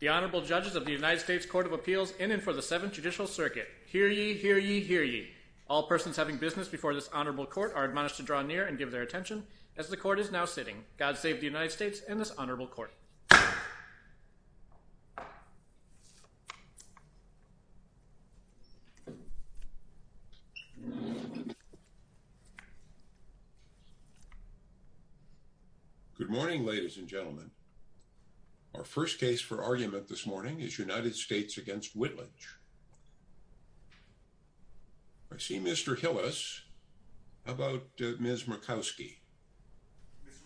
The Honorable Judges of the United States Court of Appeals in and for the Seventh Judicial Circuit. Hear ye, hear ye, hear ye. All persons having business before this Honorable Court are admonished to draw near and give their attention as the Court is now sitting. God save the United States and this Honorable Court. Good morning, ladies and gentlemen. Our first case for argument this morning is United States v. Whitledge. I see Mr. Hillis. How about Ms. Murkowski?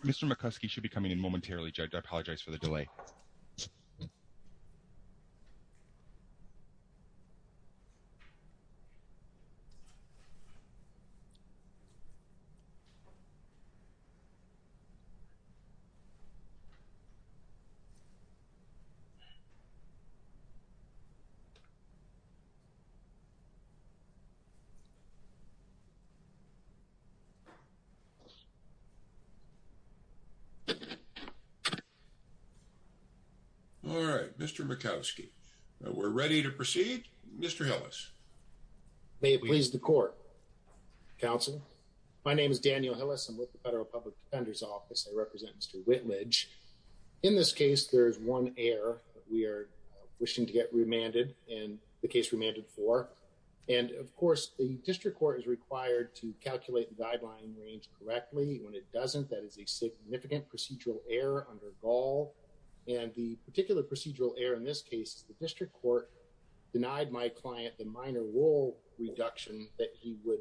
Mr. Murkowski should be coming in momentarily, Judge. I apologize for the delay. All right, Mr. Murkowski, we're ready to proceed. Mr. Hillis. May it please the office. I represent Mr. Whitledge. In this case, there is one error that we are wishing to get remanded and the case remanded for. And, of course, the District Court is required to calculate the guideline range correctly. When it doesn't, that is a significant procedural error under Gaul. And the particular procedural error in this case is the District Court denied my client the minor rule reduction that he would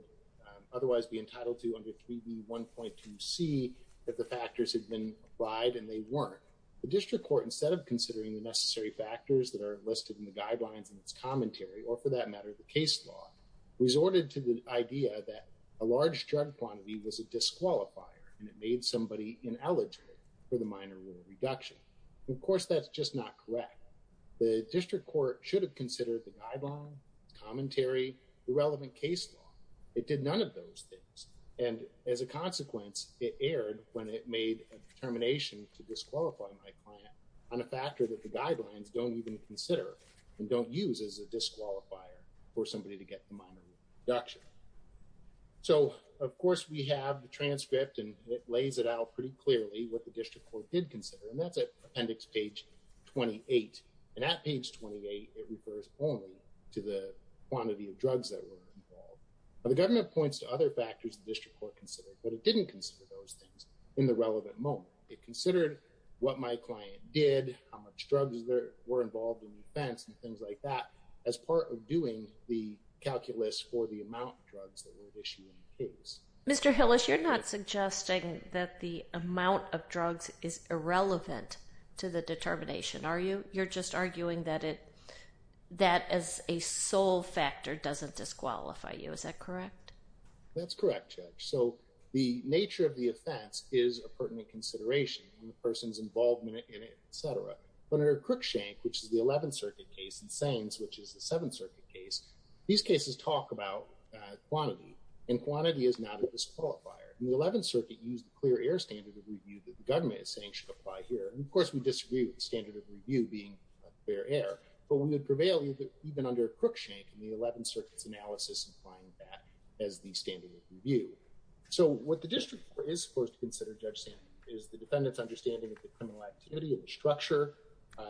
otherwise be entitled to under 3B 1.2C if the factors had been applied and they weren't. The District Court, instead of considering the necessary factors that are listed in the guidelines in its commentary or, for that matter, the case law, resorted to the idea that a large drug quantity was a disqualifier and it made somebody ineligible for the minor rule reduction. Of course, that's just not correct. The District Court should have considered the guideline, commentary, the relevant case law. It did not. As a consequence, it erred when it made a determination to disqualify my client on a factor that the guidelines don't even consider and don't use as a disqualifier for somebody to get the minor rule reduction. So, of course, we have the transcript and it lays it out pretty clearly what the District Court did consider and that's at appendix page 28. And at page 28, it refers only to the quantity of drugs that were involved. The government points to other factors the District Court considered, but it didn't consider those things in the relevant moment. It considered what my client did, how much drugs there were involved in the offense, and things like that as part of doing the calculus for the amount of drugs that were issued in the case. Mr. Hillis, you're not suggesting that the amount of drugs is irrelevant to the determination, are you? You're just arguing that it, that as a whole factor doesn't disqualify you, is that correct? That's correct, Judge. So, the nature of the offense is a pertinent consideration, the person's involvement in it, etc. But under Crookshank, which is the Eleventh Circuit case, and Saines, which is the Seventh Circuit case, these cases talk about quantity, and quantity is not a disqualifier. In the Eleventh Circuit, you use the clear air standard of review that the government is saying should apply here. And, of course, we disagree with the standard of review being clear air, but we would prevail even under Crookshank in the Eleventh Circuit's analysis applying that as the standard of review. So, what the district is supposed to consider, Judge Sandberg, is the defendant's understanding of the criminal activity, of the structure,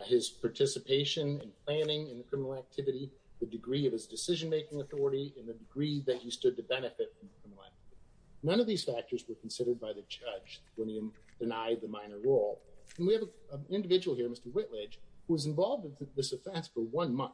his participation and planning in the criminal activity, the degree of his decision-making authority, and the degree that he stood to benefit from the criminal activity. None of these factors were considered by the judge when he denied the minor role. And we have an individual here, Mr. Whitledge, who was involved in this offense for one month,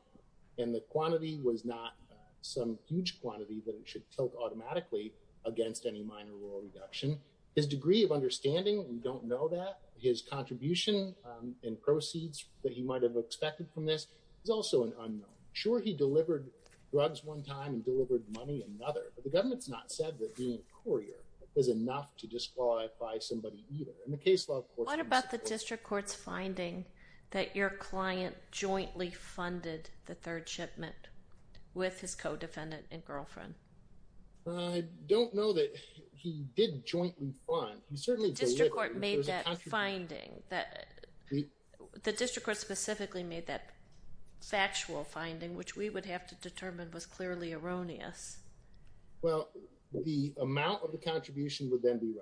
and the quantity was not some huge quantity that it should tilt automatically against any minor role reduction. His degree of understanding, we don't know that. His contribution and proceeds that he might have expected from this is also an unknown. Sure, he delivered drugs one time and delivered money another, but the government's not said that being a courier is enough to disqualify somebody either. In the case law, of course, we disagree. The district court made that finding that your client jointly funded the third shipment with his co-defendant and girlfriend. I don't know that he did jointly fund. The district court specifically made that factual finding, which we would have to determine was clearly erroneous. Well, the amount of the contribution would then be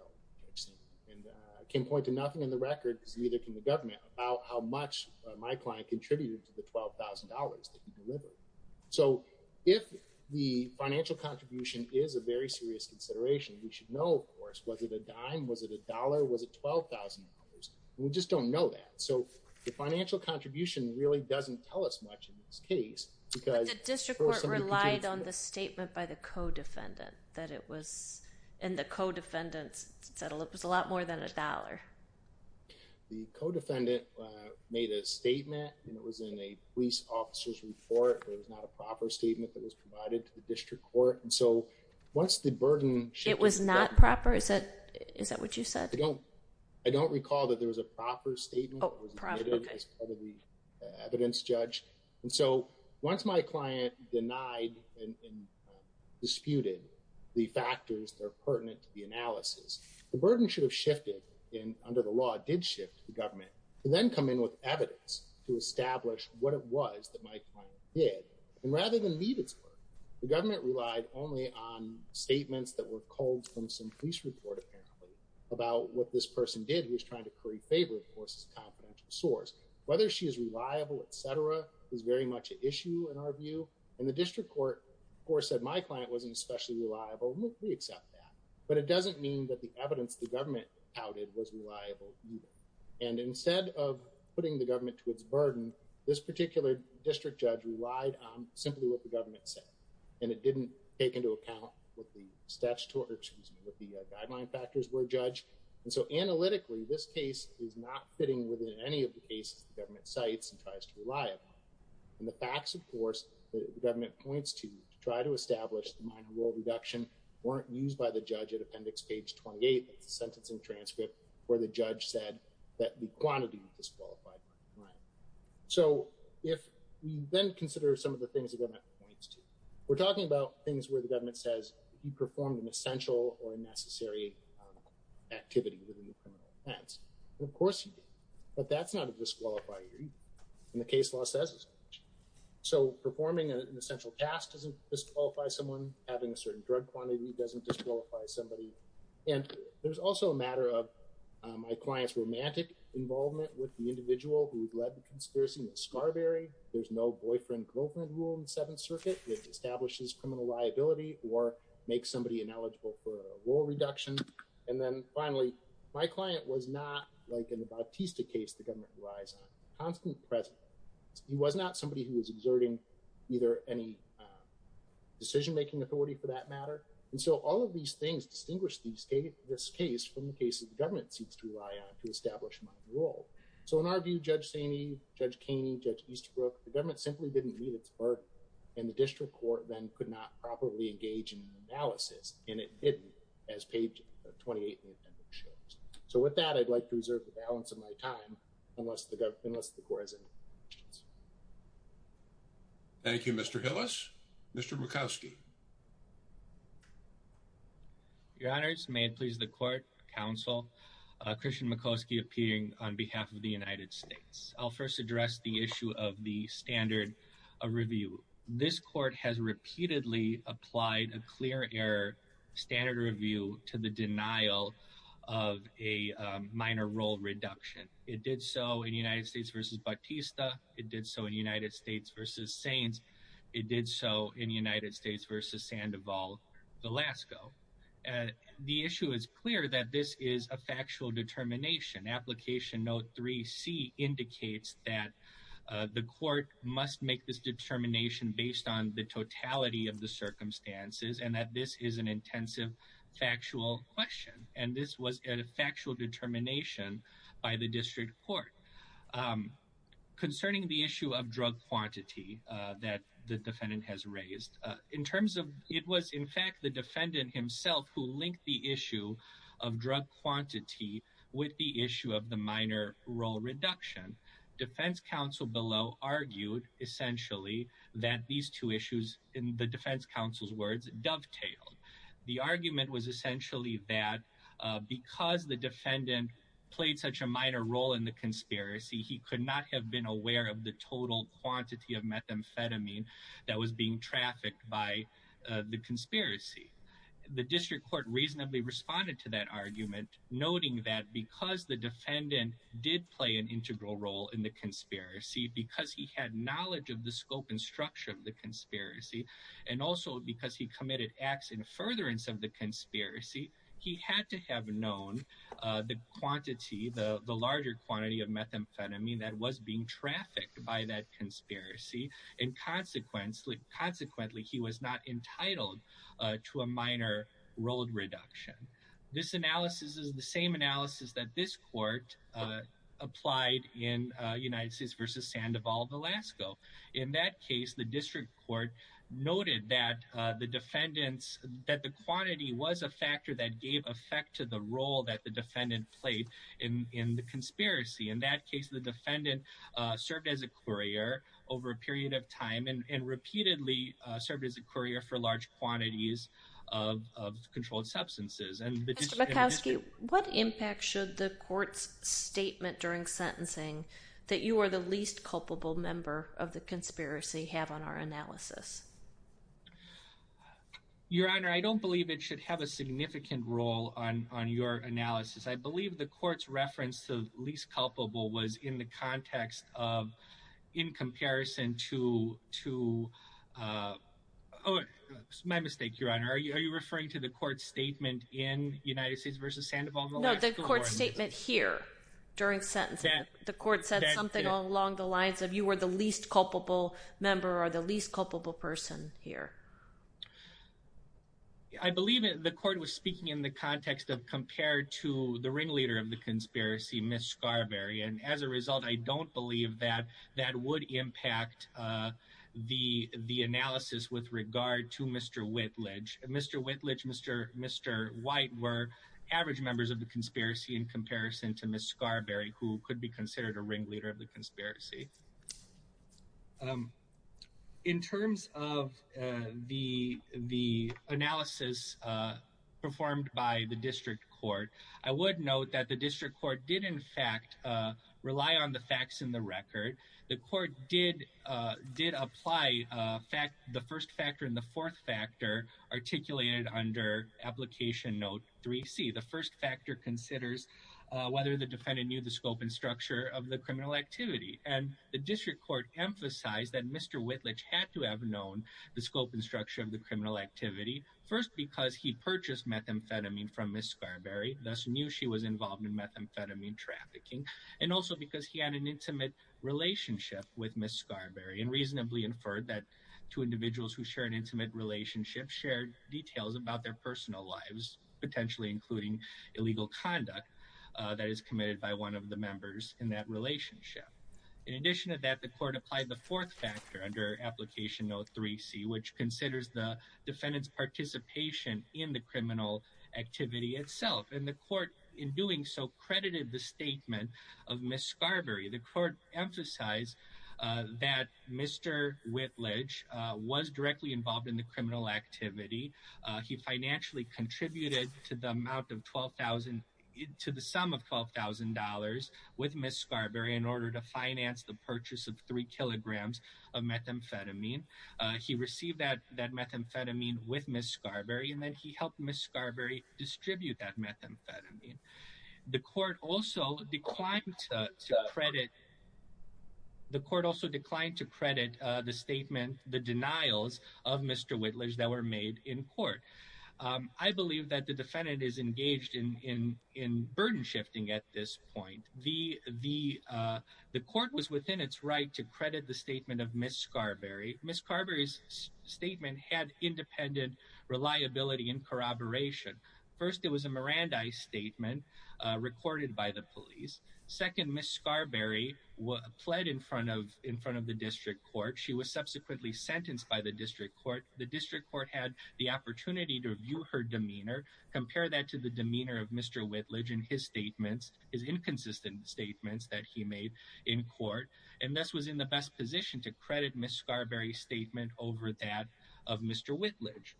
about how much my client contributed to the $12,000 that he delivered. So, if the financial contribution is a very serious consideration, we should know, of course, was it a dime, was it a dollar, was it $12,000? We just don't know that. So, the financial contribution really doesn't tell us much in this case. But the district court relied on the statement by the co-defendant that it was, and the co-defendant said it was a lot more than a $12,000. My client made a statement, and it was in a police officer's report, but it was not a proper statement that was provided to the district court. And so, once the burden... It was not proper? Is that what you said? I don't recall that there was a proper statement that was admitted as part of the evidence judge. And so, once my client denied and disputed the factors that are pertinent to the analysis, the district court would then come in with evidence to establish what it was that my client did. And rather than leave its work, the government relied only on statements that were culled from some police report, apparently, about what this person did. He was trying to curry favor, of course, as a confidential source. Whether she is reliable, etc., is very much an issue in our view. And the district court, of course, said my client wasn't especially reliable, and we accept that. But it doesn't mean that the evidence the government touted was reliable either. And instead of putting the government to its burden, this particular district judge relied on simply what the government said. And it didn't take into account what the guideline factors were, judge. And so, analytically, this case is not fitting within any of the cases the government cites and tries to rely upon. And the facts, of course, the government points to try to establish the minor role reduction weren't used by the judge at appendix page 28. It's a sentencing transcript where the judge said that the quantity was disqualified. So, if we then consider some of the things the government points to, we're talking about things where the government says you performed an essential or a necessary activity within the criminal offense. And, of course, but that's not a disqualifier either. And the case law says it's not. So, performing an essential task doesn't disqualify someone. Having a certain drug quantity doesn't disqualify somebody. And there's also a matter of my client's romantic involvement with the individual who led the conspiracy with Scarberry. There's no boyfriend-girlfriend rule in the Seventh Circuit which establishes criminal liability or makes somebody ineligible for a role reduction. And then, finally, my client was not like in the Bautista case the government relies on, constantly present. He was not somebody who was exerting either any decision-making authority for that matter. And so, all of these things distinguish this case from the cases the government seeks to rely on to establish minor role. So, in our view, Judge Saney, Judge Kaney, Judge Easterbrook, the government simply didn't need its work. And the district court then could not properly engage in an analysis. And it didn't as page 28 in the appendix shows. So, with that, I'd like to reserve the balance of my time unless the court has any questions. Thank you, Mr. Hillis. Mr. Murkowski. Your Honors, may it please the court, counsel, Christian Murkowski appearing on behalf of the United States. I'll first address the issue of the standard review. This court has repeatedly applied a clear error standard review to the denial of a minor role reduction. It did so in United States v. Bautista. It did so in United States v. Saints. It did so in United States v. Sandoval, Alaska. The issue is clear that this is a factual determination. Application note 3C indicates that the court must make this determination based on the totality of the circumstances and that this is an intensive factual question. And this was a factual determination by the district court concerning the issue of drug quantity that the defendant has raised in terms of it was in fact the defendant himself who linked the issue of drug quantity with the issue of the minor role reduction. Defense counsel below argued essentially that these two issues in the defense counsel's words dovetailed. The argument was essentially that because the defendant played such a minor role in the conspiracy, he could not have been aware of the total quantity of methamphetamine that was being trafficked by the conspiracy. The district court reasonably responded to that argument, noting that because the defendant did play an integral role in the conspiracy, because he had knowledge of the scope and structure of the conspiracy, and also because he committed acts in furtherance of the conspiracy, he had to have known the quantity, the larger quantity of methamphetamine that was being trafficked by that conspiracy. And consequently, he was not entitled to a minor role reduction. This analysis is the same analysis that this court applied in United States versus Sandoval of Alaska. In that case, the district court noted that the defendants that the quantity was a factor that gave effect to the role that the defendant played in the conspiracy. In that case, the defendant served as a courier over a period of time and repeatedly served as a courier for large quantities of controlled substances. What impact should the court's statement during sentencing that you are the least culpable member of the conspiracy have on our analysis? Your Honor, I don't believe it should have a significant role on your analysis. I believe the court's reference to least culpable was in the context of, in comparison to, my mistake, Your Honor. Are you referring to the court's statement in United States versus Sandoval of Alaska? No, the court's statement here during sentencing. The court said something along the lines of you were the least culpable member or the least culpable person here. I believe the court was speaking in the context of compared to the ringleader of the conspiracy, Ms. Scarberry. And as a result, I don't believe that that would impact the analysis with regard to Mr. Whitledge. Mr. Whitledge, Mr. White were average members of the conspiracy in comparison to Ms. Scarberry, who could be considered a ringleader of the conspiracy. In terms of the analysis performed by the district court, I would note that the district court did, in fact, rely on the facts in the record. The court did apply the first factor and the fourth factor articulated under Application Note 3C. The first factor considers whether the defendant knew the scope and structure of the criminal activity. And the district court emphasized that Mr. Whitledge had to have known the scope and structure of the criminal activity. First, because he purchased methamphetamine from Ms. Scarberry, thus knew she was involved in methamphetamine trafficking. And also because he had an intimate relationship with Ms. Scarberry. And reasonably inferred that two individuals who share an intimate relationship shared details about their personal lives, potentially including illegal conduct that is committed by one of the members in that relationship. In addition to that, the court applied the fourth factor under Application Note 3C, which considers the defendant's participation in the criminal activity itself. And the court, in doing so, credited the statement of Ms. Scarberry. The court emphasized that Mr. Whitledge was directly involved in the criminal activity. He financially contributed to the sum of $12,000 with Ms. Scarberry in order to finance the purchase of three kilograms of methamphetamine. He received that methamphetamine with Ms. Scarberry and then he helped Ms. Scarberry distribute that methamphetamine. The court also declined to credit the statement, the denials of Mr. Whitledge that were made in court. I believe that the defendant is engaged in burden shifting at this point. The court was within its right to credit the statement of Ms. Scarberry. Ms. Scarberry's statement had independent reliability and corroboration. First, it was a Mirandai statement recorded by the police. Second, Ms. Scarberry pled in front of the district court. She was subsequently sentenced by the district court. The district court had the opportunity to review her demeanor, compare that to the demeanor of Mr. Whitledge in his statements. His inconsistent statements that he made in court. And thus was in the best position to credit Ms. Scarberry's statement over that of Mr. Whitledge.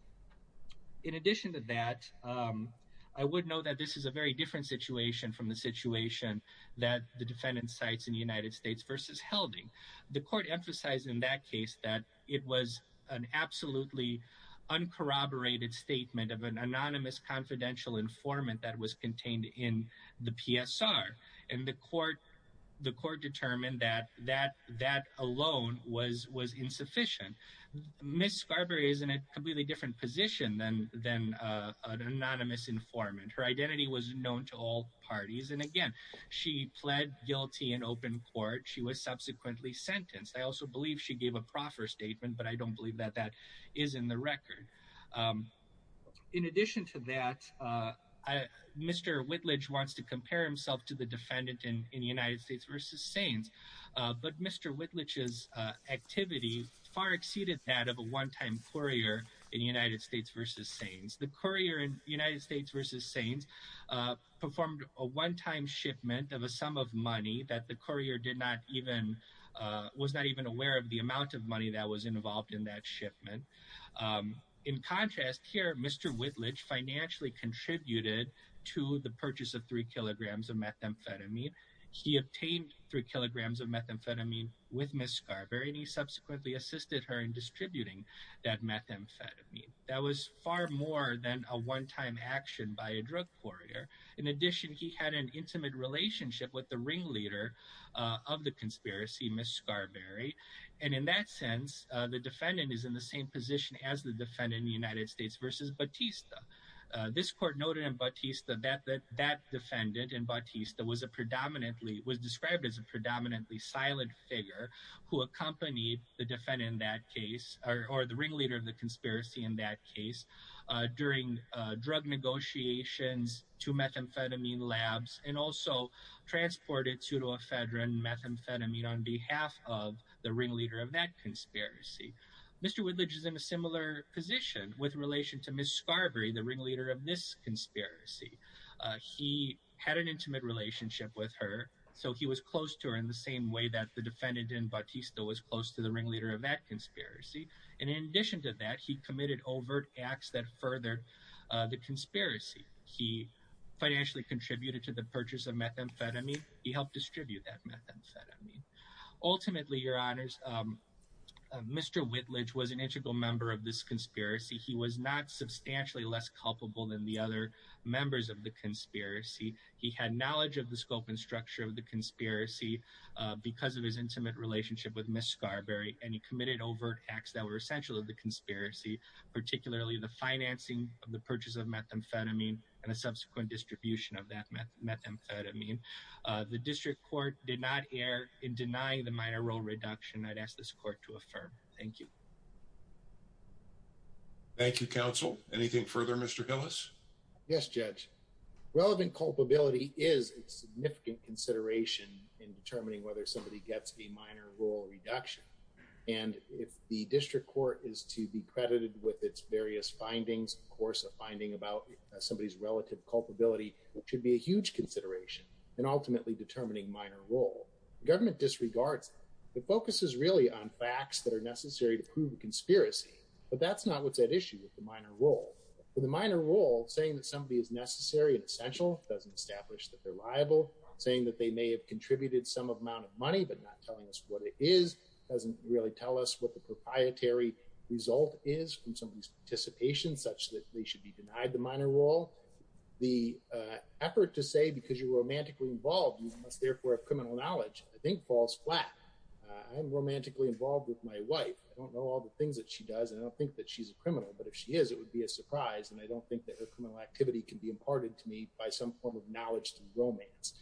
In addition to that, I would note that this is a very different situation from the situation that the defendant cites in the United States versus Helding. The court emphasized in that case that it was an absolutely uncorroborated statement of an anonymous confidential informant that was contained in the PSR. And the court determined that that alone was insufficient. Ms. Scarberry is in a completely different position than an anonymous informant. Her identity was known to all parties. And again, she pled guilty in open court. She was subsequently sentenced. I also believe she gave a proffer statement, but I don't believe that that is in the record. In addition to that, Mr. Whitledge wants to compare himself to the defendant in the United States versus Sains. But Mr. Whitledge's activity far exceeded that of a one-time courier in the United States versus Sains. The courier in the United States versus Sains performed a one-time shipment of a sum of money that the courier was not even aware of the amount of money that was involved in that shipment. In contrast, here, Mr. Whitledge financially contributed to the purchase of three kilograms of methamphetamine. He obtained three kilograms of methamphetamine with Ms. Scarberry, and he subsequently assisted her in distributing that methamphetamine. That was far more than a one-time action by a drug courier. In addition, he had an intimate relationship with the ringleader of the conspiracy, Ms. Scarberry. And in that sense, the defendant is in the same position as the defendant in the United States versus Batista. This court noted in Batista that that defendant in Batista was a predominantly, was described as a predominantly silent figure who accompanied the defendant in that case, or the ringleader of the conspiracy in that case, during drug negotiations to methamphetamine labs and also transported pseudoephedrine methamphetamine on behalf of the ringleader of that conspiracy. Mr. Whitledge is in a similar position with relation to Ms. Scarberry, the ringleader of this conspiracy. He had an intimate relationship with her, so he was close to her in the same way that the defendant in Batista was close to the ringleader of that conspiracy. And in addition to that, he committed overt acts that furthered the conspiracy. He financially contributed to the purchase of methamphetamine. He helped distribute that methamphetamine. Ultimately, your honors, Mr. Whitledge was an integral member of this conspiracy. He was not substantially less culpable than the other members of the conspiracy. He had knowledge of the scope and structure of the conspiracy because of his intimate relationship with Ms. Scarberry. And he committed overt acts that were essential to the conspiracy, particularly the financing of the purchase of methamphetamine and a subsequent distribution of that methamphetamine. The district court did not err in denying the minor role reduction. I'd ask this court to affirm. Thank you. Thank you, counsel. Anything further, Mr. Hillis? Yes, Judge. Relevant culpability is a significant consideration in determining whether somebody gets a minor role reduction. And if the district court is to be credited with its various findings, of course, a finding about somebody's relative culpability should be a huge consideration in ultimately determining minor role. The government disregards that. It focuses really on facts that are necessary to prove the conspiracy. But that's not what's at issue with the minor role. The minor role, saying that somebody is necessary and essential, doesn't establish that they're liable. Saying that they may have contributed some amount of money, but not telling us what it is, doesn't really tell us what the proprietary result is from somebody's participation, such that they should be denied the minor role. The effort to say because you're romantically involved, you must therefore have criminal knowledge, I think, falls flat. I'm romantically involved with my wife. I don't know all the things that she does, and I don't think that she's a criminal. But if she is, it would be a surprise. And I don't think that her criminal activity can be imparted to me by some form of knowledge to romance.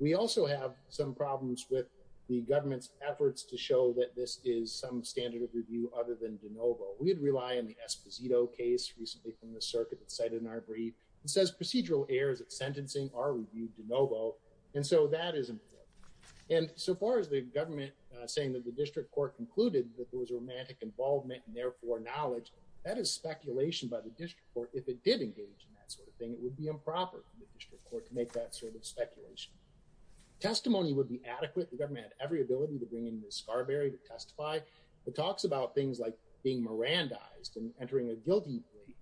We also have some problems with the government's efforts to show that this is some standard of review other than de novo. We'd rely on the Esposito case recently from the circuit that's cited in our brief. It says procedural errors at sentencing are reviewed de novo. And so that is important. And so far as the government saying that the district court concluded that there was romantic involvement and therefore knowledge, that is speculation by the district court. If it did engage in that sort of thing, it would be improper for the district court to make that sort of speculation. Testimony would be adequate. The government had every ability to bring in the Scarberry to testify. It talks about things like being Miranda eyes and entering a guilty plea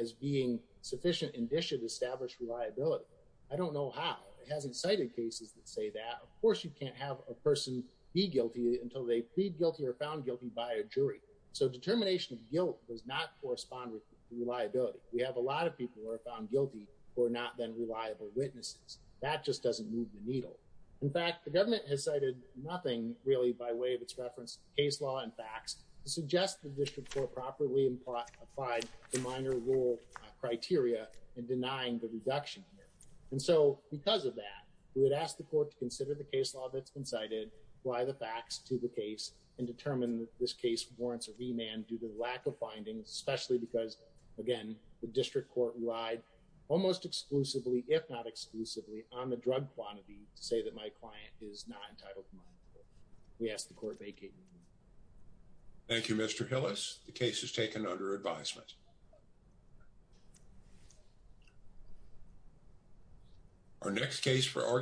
as being sufficient indicia to establish reliability. I don't know how it hasn't cited cases that say that. Of course, you can't have a person be guilty until they plead guilty or found guilty by a jury. So determination of guilt does not correspond with reliability. We have a lot of people who are found guilty who are not then reliable witnesses. That just doesn't move the needle. In fact, the government has cited nothing really by way of its reference case law and facts to suggest the district court properly applied to minor rule criteria in denying the reduction. And so because of that, we would ask the court to consider the case law that's been cited. Why the facts to the case and determine this case warrants a remand due to lack of findings, especially because, again, the district court relied almost exclusively, if not exclusively on the drug quantity to say that my client is not entitled. We asked the court vacate. Thank you, Mr. Hill is the case is taken under advisement. Our next case for.